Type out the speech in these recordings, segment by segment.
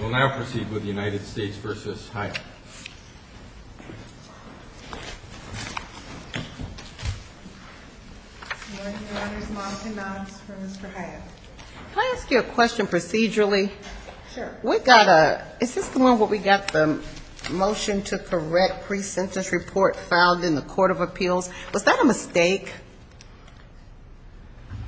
We'll now proceed with United States v. Hyatt. Can I ask you a question procedurally? Sure. Is this the one where we got the motion to correct pre-sentence report filed in the Court of Appeals? Was that a mistake?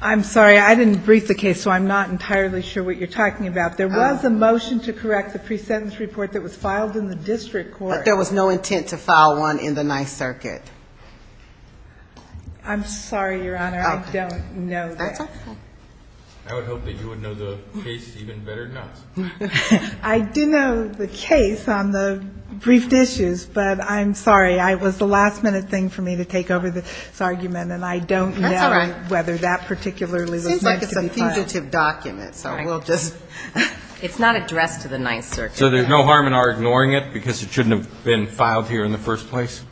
I'm sorry, I didn't brief the case, so I'm not entirely sure what you're talking about. There was a motion to correct the pre-sentence report that was filed in the district court. But there was no intent to file one in the Ninth Circuit. I'm sorry, Your Honor, I don't know that. That's okay. I would hope that you would know the case even better than us. I do know the case on the briefed issues, but I'm sorry. It was the last-minute thing for me to take over this argument, and I don't know whether that particularly was meant to be filed. That's all right. Seems like it's a definitive document, so we'll just... It's not addressed to the Ninth Circuit. So there's no harm in our ignoring it because it shouldn't have been filed here in the first place?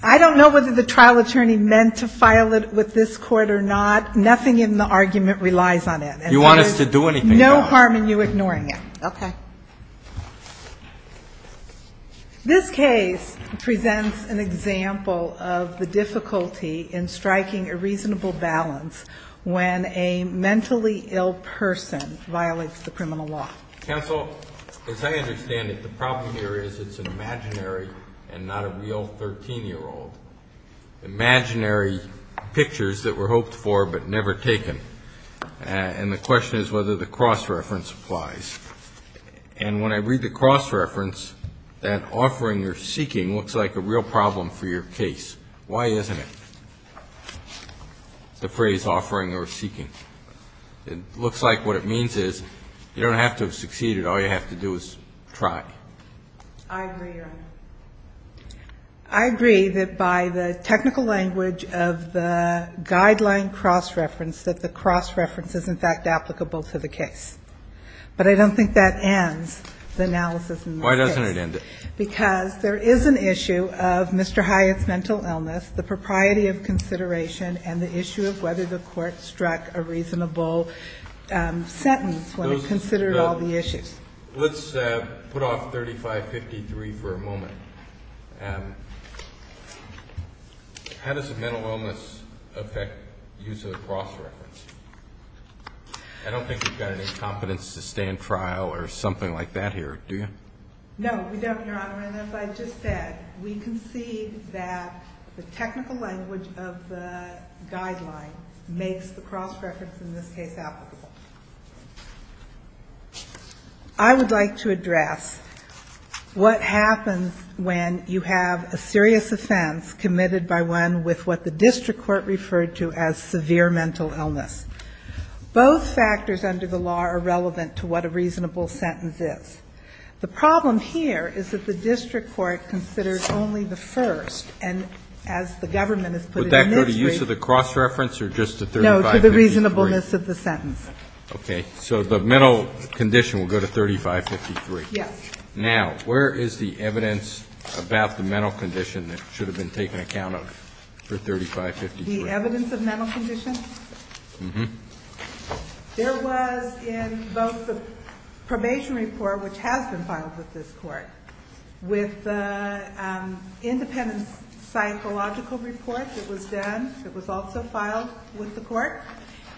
I don't know whether the trial attorney meant to file it with this court or not. Nothing in the argument relies on it. This case presents an example of the difficulty in striking a reasonable balance when a mentally ill person violates the criminal law. Counsel, as I understand it, the problem here is it's an imaginary and not a real 13-year-old. Imaginary pictures that were hoped for but never taken. And the question is whether the cross-reference applies. And when I read the cross-reference, that offering or seeking looks like a real problem for your case. Why isn't it, the phrase offering or seeking? It looks like what it means is you don't have to have succeeded. All you have to do is try. I agree, Your Honor. I agree that by the technical language of the guideline cross-reference that the cross-reference is in fact applicable to the case. But I don't think that ends the analysis in this case. Because there is an issue of Mr. Hyatt's mental illness, the propriety of consideration and the issue of whether the court struck a reasonable sentence when it considered all the issues. Let's put off 3553 for a moment. How does a mental illness affect use of the cross-reference? I don't think you've got any competence to stand trial or something like that here, do you? No, we don't, Your Honor, and as I just said, we concede that the technical language of the guideline makes the cross-reference in this case applicable. I would like to address what happens when you have a serious offense committed by one with what the district court referred to as severe mental illness. Both factors under the law are relevant to what a reasonable sentence is. The problem here is that the district court considers only the first, and as the government has put it in its brief. Would that go to use of the cross-reference or just to 3553? No, to the reasonableness of the sentence. Okay. So the mental condition will go to 3553. Yes. Now, where is the evidence about the mental condition that should have been taken account of for 3553? The evidence of mental condition? Mm-hmm. There was in both the probation report, which has been filed with this court, with the independent psychological report that was done, that was also filed with the court,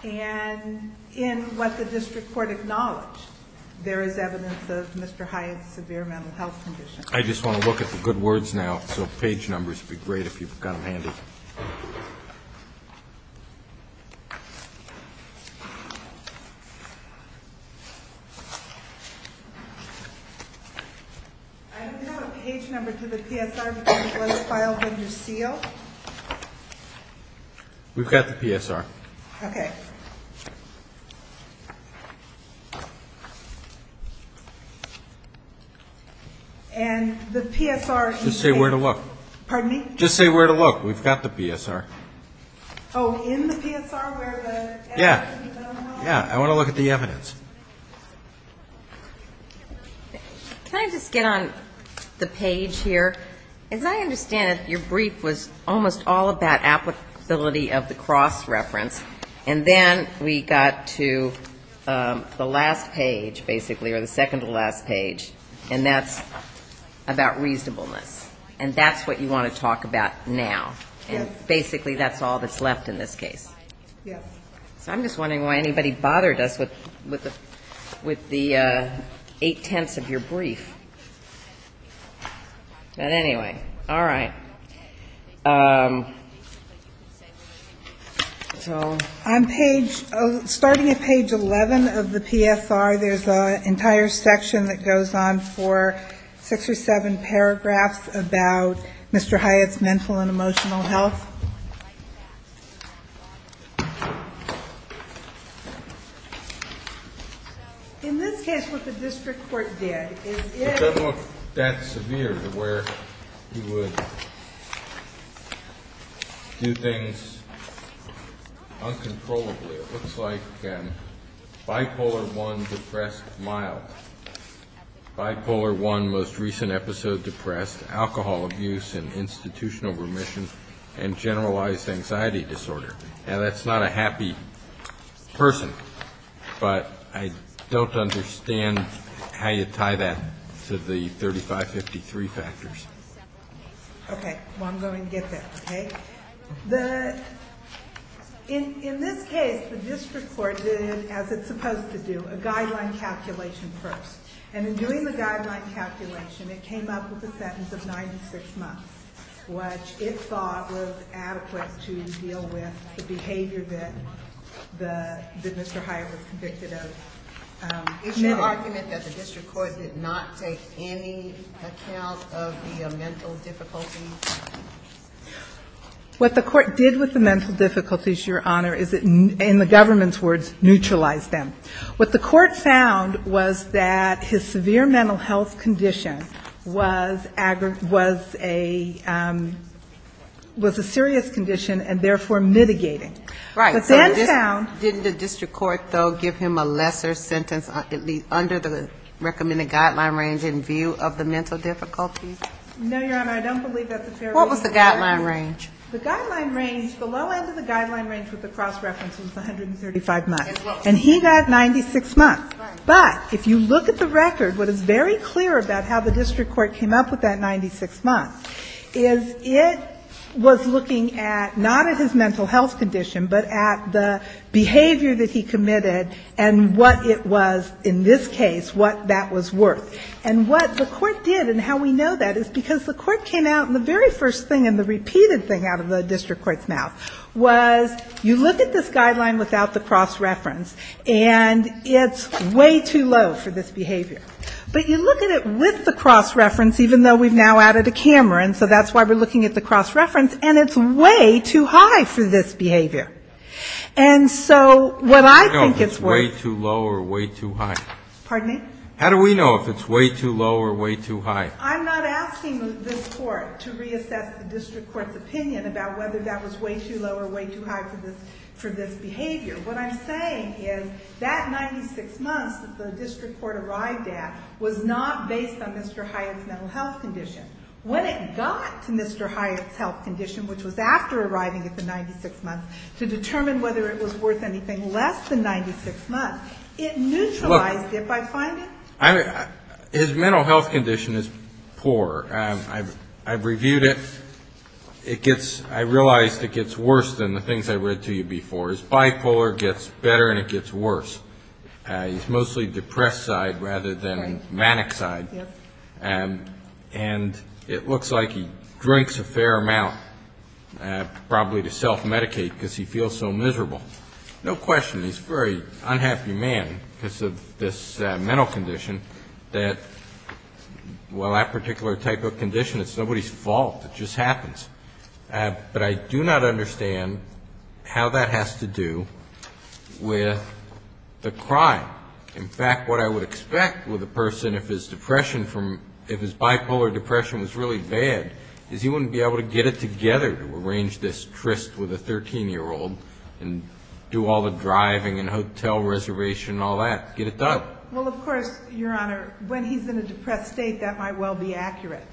and in what the district court acknowledged, there is evidence of Mr. Hyatt's severe mental health condition. I just want to look at the good words now, so page numbers would be great if you've got them handy. I don't have a page number to the PSR, but there was a file under seal. We've got the PSR. Okay. And the PSR... Just say where to look. Pardon me? Just say where to look. We've got the PSR. Oh, in the PSR where the evidence has been analyzed? Yeah. Yeah. I want to look at the evidence. Can I just get on the page here? As I understand it, your brief was almost all about applicability of the cross-reference, and then we got to the last page, basically, or the second-to-last page, and that's about reasonableness. And that's what you want to talk about now. Yes. And basically that's all that's left in this case. Yes. So I'm just wondering why anybody bothered us with the eight-tenths of your brief. But anyway, all right. Starting at page 11 of the PSR, there's an entire section that goes on for six or seven paragraphs about Mr. Hyatt's mental and emotional health. In this case, what the district court did is it... It doesn't look that severe to where he would do things uncontrollably. It looks like bipolar I, depressed, mild. Bipolar I, most recent episode, depressed, alcohol abuse and institutional remission, and generalized anxiety disorder. Now, that's not a happy person, but I don't understand how you tie that to the 3553 factors. Okay. Well, I'm going to get that, okay? In this case, the district court did, as it's supposed to do, a guideline calculation first. And in doing the guideline calculation, it came up with a sentence of 96 months, which it thought was adequate to deal with the behavior that Mr. Hyatt was convicted of. Is your argument that the district court did not take any account of the mental difficulties? What the court did with the mental difficulties, Your Honor, is it, in the government's words, neutralized them. What the court found was that his severe mental health condition was a serious condition and therefore mitigating. But then found... Right. So didn't the district court, though, give him a lesser sentence, at least under the recommended guideline range in view of the mental difficulties? No, Your Honor. I don't believe that the fair reason... What was the guideline range? The guideline range, the low end of the guideline range with the cross-references, was 135 months. And he got 96 months. But if you look at the record, what is very clear about how the district court came up with that 96 months is it was looking at, not at his mental health condition, but at the behavior that he committed and what it was, in this case, what that was worth. And what the court did and how we know that is because the court came out and the very first thing and the repeated thing out of the district court's mouth was you look at this guideline without the cross-reference and it's way too low for this behavior. But you look at it with the cross-reference, even though we've now added a camera, and so that's why we're looking at the cross-reference, and it's way too high for this behavior. And so what I think it's worth... How do we know if it's way too low or way too high? Pardon me? How do we know if it's way too low or way too high? I'm not asking this court to reassess the district court's opinion about whether that was way too low or way too high for this behavior. What I'm saying is that 96 months that the district court arrived at was not based on Mr. Hyatt's mental health condition. When it got to Mr. Hyatt's health condition, which was after arriving at the 96 months, to determine whether it was worth anything less than 96 months, it neutralized it by finding... His mental health condition is poor. I've reviewed it. I realized it gets worse than the things I read to you before. His bipolar gets better and it gets worse. His mostly depressed side rather than manic side. And it looks like he drinks a fair amount, probably to self-medicate because he feels so miserable. No question, he's a very unhappy man because of this mental condition that, well, that particular type of condition, it's nobody's fault. It just happens. But I do not understand how that has to do with the crime. In fact, what I would expect with a person if his bipolar depression was really bad is he wouldn't be able to get it together to arrange this tryst with a 13-year-old and do all the driving and hotel reservation and all that, get it done. Well, of course, Your Honor, when he's in a depressed state, that might well be accurate.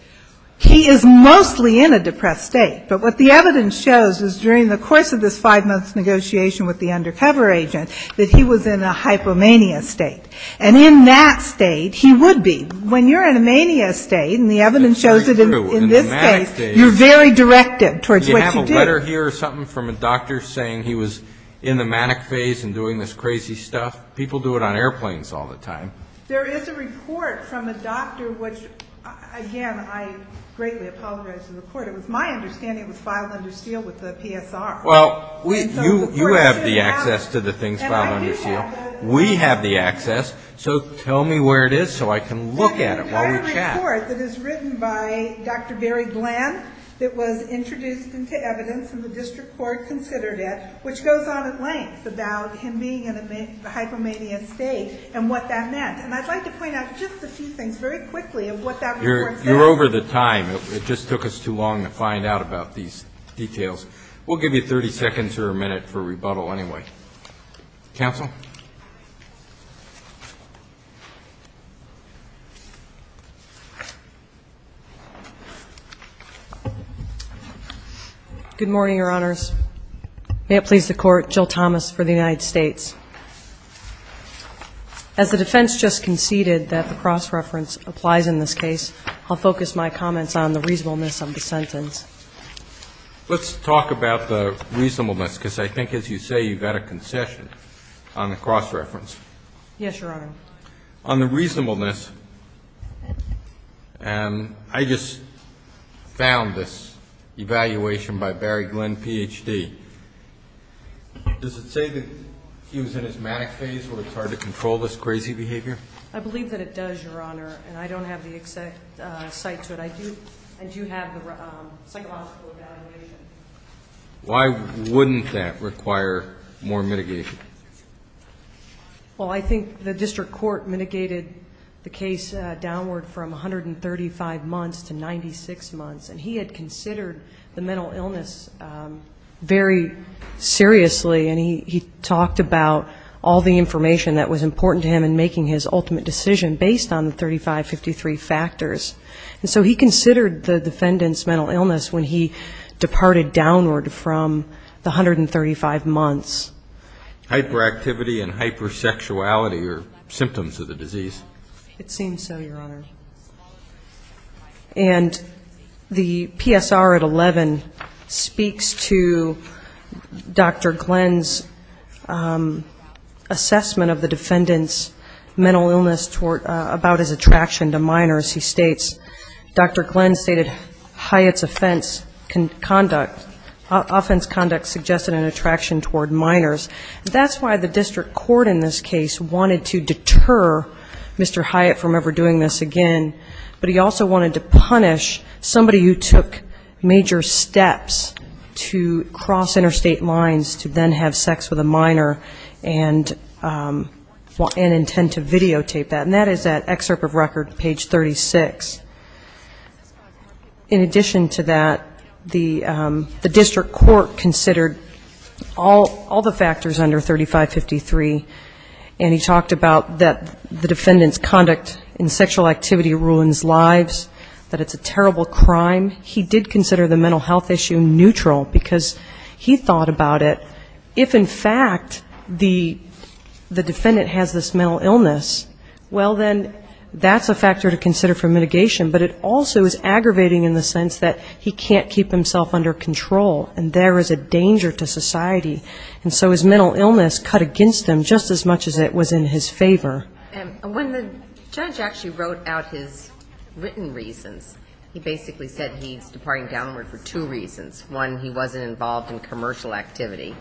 He is mostly in a depressed state. But what the evidence shows is during the course of this five-month negotiation with the undercover agent that he was in a hypomania state. And in that state, he would be. When you're in a mania state, and the evidence shows it in this case, you're very directed towards what you do. Did you get a letter here or something from a doctor saying he was in the manic phase and doing this crazy stuff? People do it on airplanes all the time. There is a report from a doctor which, again, I greatly apologize for the report. It was my understanding it was filed under seal with the PSR. Well, you have the access to the things filed under seal. We have the access. So tell me where it is so I can look at it while we chat. It's a report that is written by Dr. Barry Glenn that was introduced into evidence, and the district court considered it, which goes on at length about him being in a hypomania state and what that meant. And I'd like to point out just a few things very quickly of what that report says. You're over the time. It just took us too long to find out about these details. We'll give you 30 seconds or a minute for rebuttal anyway. Counsel? Good morning, Your Honors. May it please the Court, Jill Thomas for the United States. As the defense just conceded that the cross-reference applies in this case, I'll focus my comments on the reasonableness of the sentence. Let's talk about the reasonableness because I think, as you say, you've got a concession on the cross-reference. Yes, Your Honor. On the reasonableness, I just found this evaluation by Barry Glenn, Ph.D. Does it say that he was in his manic phase where it's hard to control this crazy behavior? I believe that it does, Your Honor, and I don't have the exact cite to it. And do you have the psychological evaluation? Why wouldn't that require more mitigation? Well, I think the district court mitigated the case downward from 135 months to 96 months, and he had considered the mental illness very seriously, and he talked about all the information that was important to him in making his ultimate decision based on the 3553 factors. And so he considered the defendant's mental illness when he departed downward from the 135 months. Hyperactivity and hypersexuality are symptoms of the disease. It seems so, Your Honor. And the PSR at 11 speaks to Dr. Glenn's assessment of the defendant's mental illness about his attraction to minors. He states, Dr. Glenn stated Hyatt's offense conduct suggested an attraction toward minors. That's why the district court in this case wanted to deter Mr. Hyatt from ever doing this again, but he also wanted to punish somebody who took major steps to cross interstate lines to then have sex with a minor and intend to videotape that. And that is that excerpt of record, page 36. In addition to that, the district court considered all the factors under 3553, and he talked about that the defendant's conduct in sexual activity ruins lives, that it's a terrible crime. He did consider the mental health issue neutral, because he thought about it. If, in fact, the defendant has this mental illness, well, then that's a factor to consider for mitigation, but it also is aggravating in the sense that he can't keep himself under control, and there is a danger to society. And so his mental illness cut against him just as much as it was in his favor. When the judge actually wrote out his written reasons, he basically said he's departing downward for two reasons. One, he wasn't involved in commercial activity,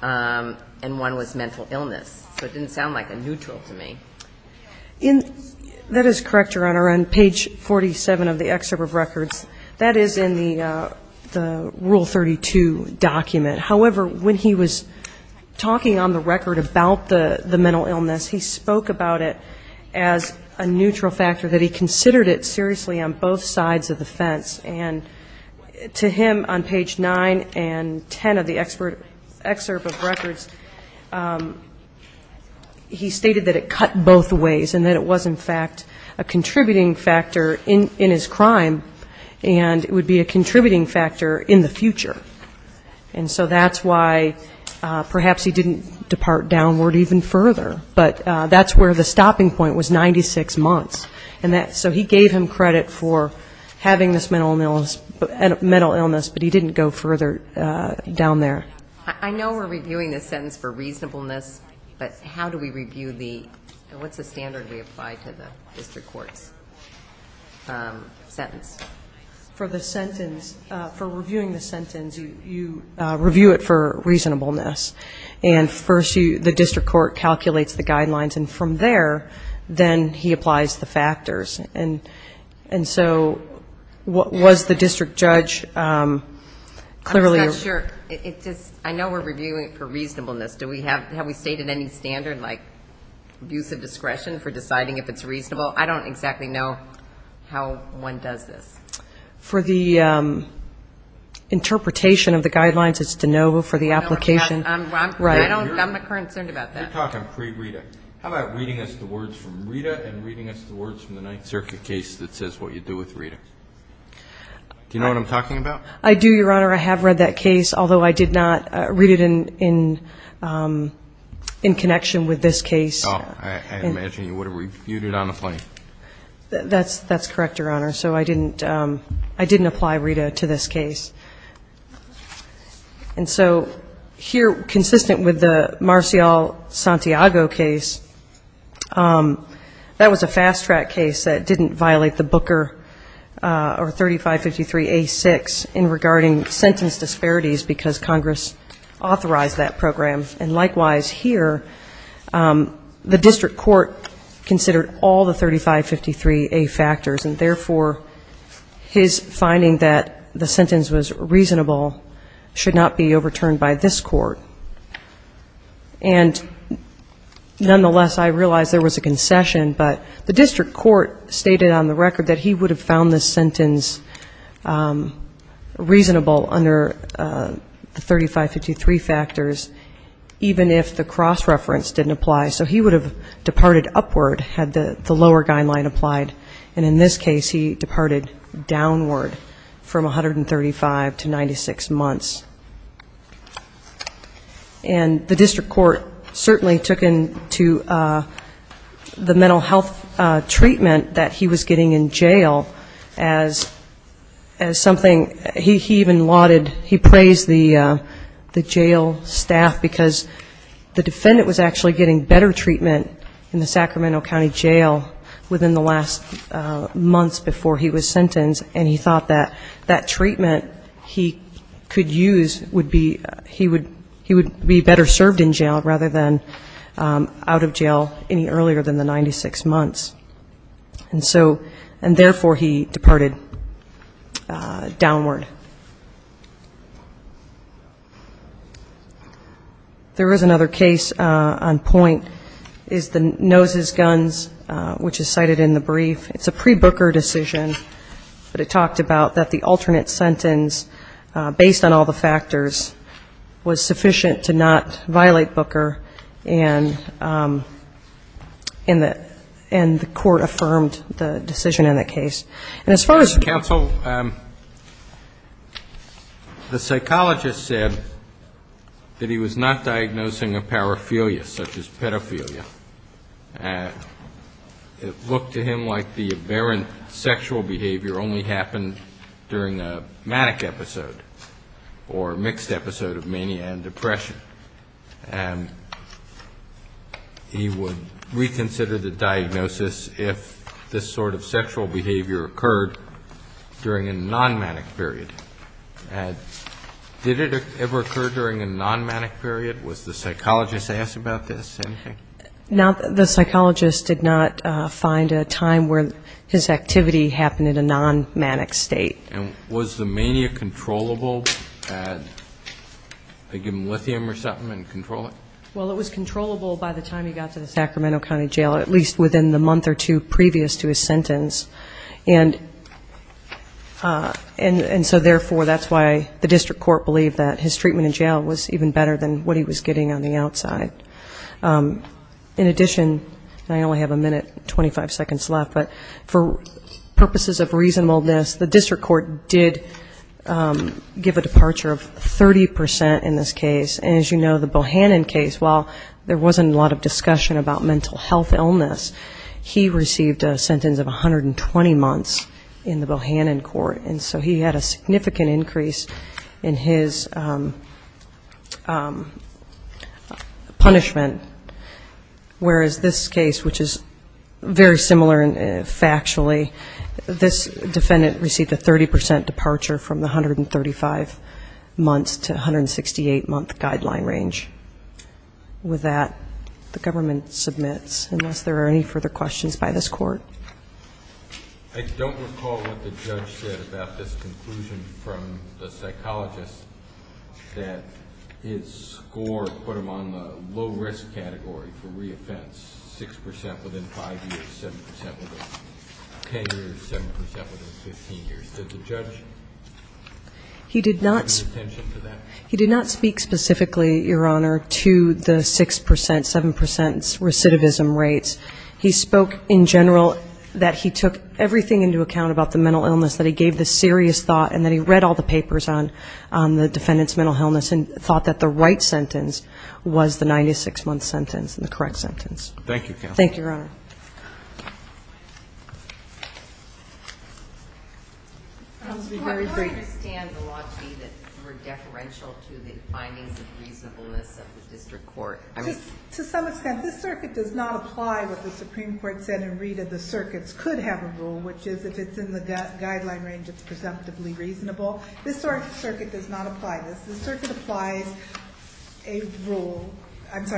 and one was mental illness. So it didn't sound like a neutral to me. That is correct, Your Honor. On page 47 of the excerpt of records, that is in the Rule 32 document. However, when he was talking on the record about the mental illness, he spoke about it as a neutral factor, that he considered it seriously on both sides of the fence. And to him, on page 9 and 10 of the excerpt of records, he stated that it cut both ways and that it was, in fact, a contributing factor in his crime, and it would be a contributing factor in the future. And so that's why perhaps he didn't depart downward even further, but that's where the stopping point was 96 months. So he gave him credit for having this mental illness, but he didn't go further down there. I know we're reviewing this sentence for reasonableness, but how do we review the, what's the standard we apply to the district court's sentence? For the sentence, for reviewing the sentence, you review it for reasonableness. And first you, the district court calculates the guidelines, and from there, then he applies the factors. And so was the district judge clearly? I'm not sure. I know we're reviewing it for reasonableness. Do we have, have we stated any standard like use of discretion for deciding if it's reasonable? I don't exactly know how one does this. For the interpretation of the guidelines, it's de novo for the application. I'm concerned about that. How about reading us the words from Rita and reading us the words from the Ninth Circuit case that says what you do with Rita? Do you know what I'm talking about? I do, Your Honor. I have read that case, although I did not read it in connection with this case. I imagine you would have reviewed it on the plane. That's correct, Your Honor. So I didn't apply Rita to this case. And so here, consistent with the Marcial Santiago case, that was a fast-track case that didn't violate the Booker or 3553A6. It was a case in regarding sentence disparities, because Congress authorized that program. And likewise here, the district court considered all the 3553A factors, and therefore his finding that the sentence was reasonable should not be overturned by this court. And nonetheless, I realize there was a concession, but the district court stated on the record that he would have found this sentence reasonable under the 3553 factors, even if the cross-reference didn't apply. So he would have departed upward had the lower guideline applied. And in this case, he departed downward from 135 to 96 months. And the district court certainly took into the mental health treatment that he was getting in jail as something he had not even lauded, he praised the jail staff, because the defendant was actually getting better treatment in the Sacramento County jail within the last months before he was sentenced, and he thought that that treatment he could use would be, he would be better served in jail rather than out of jail any earlier than the 96 months. And so, and therefore he departed downward. There is another case on point, is the Noses Guns, which is cited in the brief. It's a pre-Booker decision, but it talked about that the alternate sentence, based on all the factors, was sufficient to not result in an alternate sentence. And the court affirmed the decision in that case. And as far as the counsel, the psychologist said that he was not diagnosing a paraphernalia, such as pedophilia. It looked to him like the aberrant sexual behavior only happened during a manic episode or mixed episode of mania and depression. The question is, if this sort of sexual behavior occurred during a non-manic period. Did it ever occur during a non-manic period? Was the psychologist asked about this? The psychologist did not find a time where his activity happened in a non-manic state. And was the mania controllable? Did they give him lithium or something and control it? Well, it was controllable by the time he got to the Sacramento County Jail, at least within the month or two previous to his sentence. And so therefore, that's why the district court believed that his treatment in jail was even better than what he was getting on the outside. In addition, I only have a minute and 25 seconds left, but for purposes of reasonableness, the district court did give a departure of 30% in this case. And as you know, the Bohannon case, while there wasn't a lot of discussion about mental health illness, he received a sentence of 120 months in the Bohannon court. And so he had a significant increase in his punishment, whereas this case, which is very similar factually, this defendant received a 30% departure from the 135 months to 168 month guidance. And that's the guideline range. With that, the government submits, unless there are any further questions by this court. I don't recall what the judge said about this conclusion from the psychologist that his score put him on the low risk category for re-offense, 6% within 5 years, 7% within 10 years, 7% within 15 years. Did the judge pay attention to that? He did not speak specifically, Your Honor, to the 6%, 7% recidivism rates. He spoke in general that he took everything into account about the mental illness, that he gave the serious thought, and that he read all the papers on the defendant's mental illness and thought that the right sentence was the 96-month sentence and the correct sentence. Thank you, Counsel. I don't understand the logic that you were deferential to the findings of reasonableness of the district court. To some extent. This circuit does not apply what the Supreme Court said in Rita. The circuits could have a rule, which is if it's in the guideline range, it's presumptively reasonable. This sort of circuit does not apply this. The circuit applies a rule that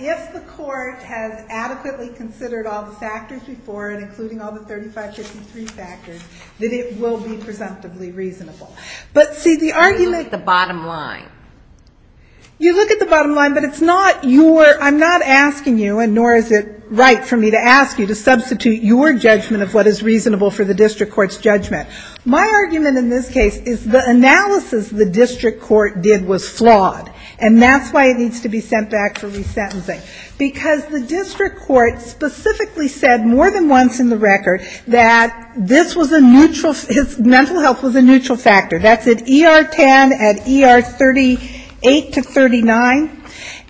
if the court has adequately considered all the factors before and included all the factors before, then the court should be able to make a decision. If the court has adequately considered all the factors before and included all the factors before, then the court should be able to make a decision. You look at the bottom line, but it's not your, I'm not asking you, and nor is it right for me to ask you to substitute your judgment of what is reasonable for the district court's judgment. My argument in this case is the analysis the district court did was flawed, and that's why it needs to be sent back for resentencing. Because the district court specifically said more than once in the record that this was a neutral, his mental health was a neutral factor. That's at ER 10, at ER 38 to 39,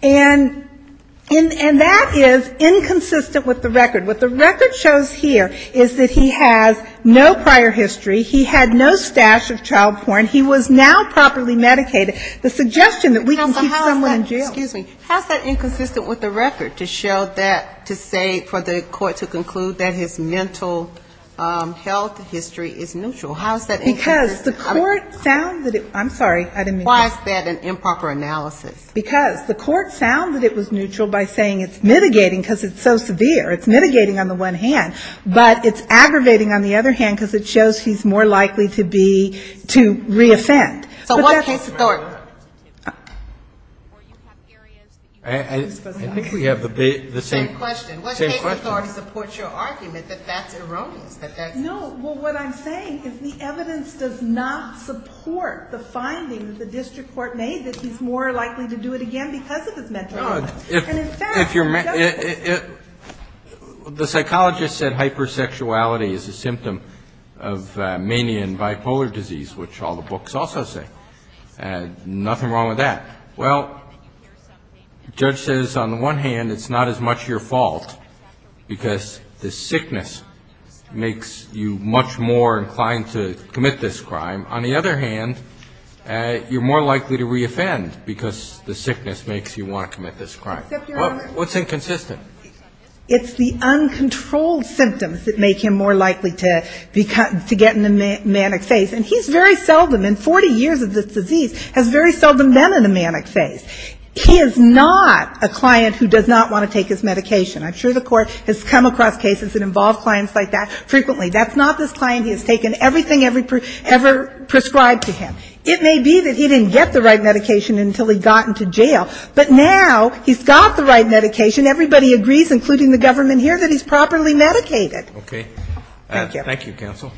and that is inconsistent with the record. What the record shows here is that he has no prior history, he had no stash of child porn, he was now properly medicated. The suggestion that we can keep someone in jail. How is that inconsistent with the record to show that, to say for the court to conclude that his mental health history is neutral? How is that inconsistent? Because the court found that it was neutral by saying it's mitigating because it's so severe. It's mitigating on the one hand, but it's aggravating on the other hand because it shows he's more likely to be, to reoffend. So what case authority? I think we have the same question. No, well, what I'm saying is the evidence does not support the finding that the district court made that he's more likely to do it again because of his mental health. The psychologist said hypersexuality is a symptom of mania and bipolar disease, which all the books also say. Nothing wrong with that. Well, the judge says on the one hand it's not as much your fault because the sickness makes you much more inclined to commit this crime. On the other hand, you're more likely to reoffend because the sickness makes you want to commit this crime. What's inconsistent? It's the uncontrolled symptoms that make him more likely to get in a manic phase. He is not a client who does not want to take his medication. I'm sure the court has come across cases that involve clients like that frequently. That's not this client who has taken everything ever prescribed to him. It may be that he didn't get the right medication until he got into jail, but now he's got the right medication. Everybody agrees, including the government here, that he's properly medicated. Thank you, counsel.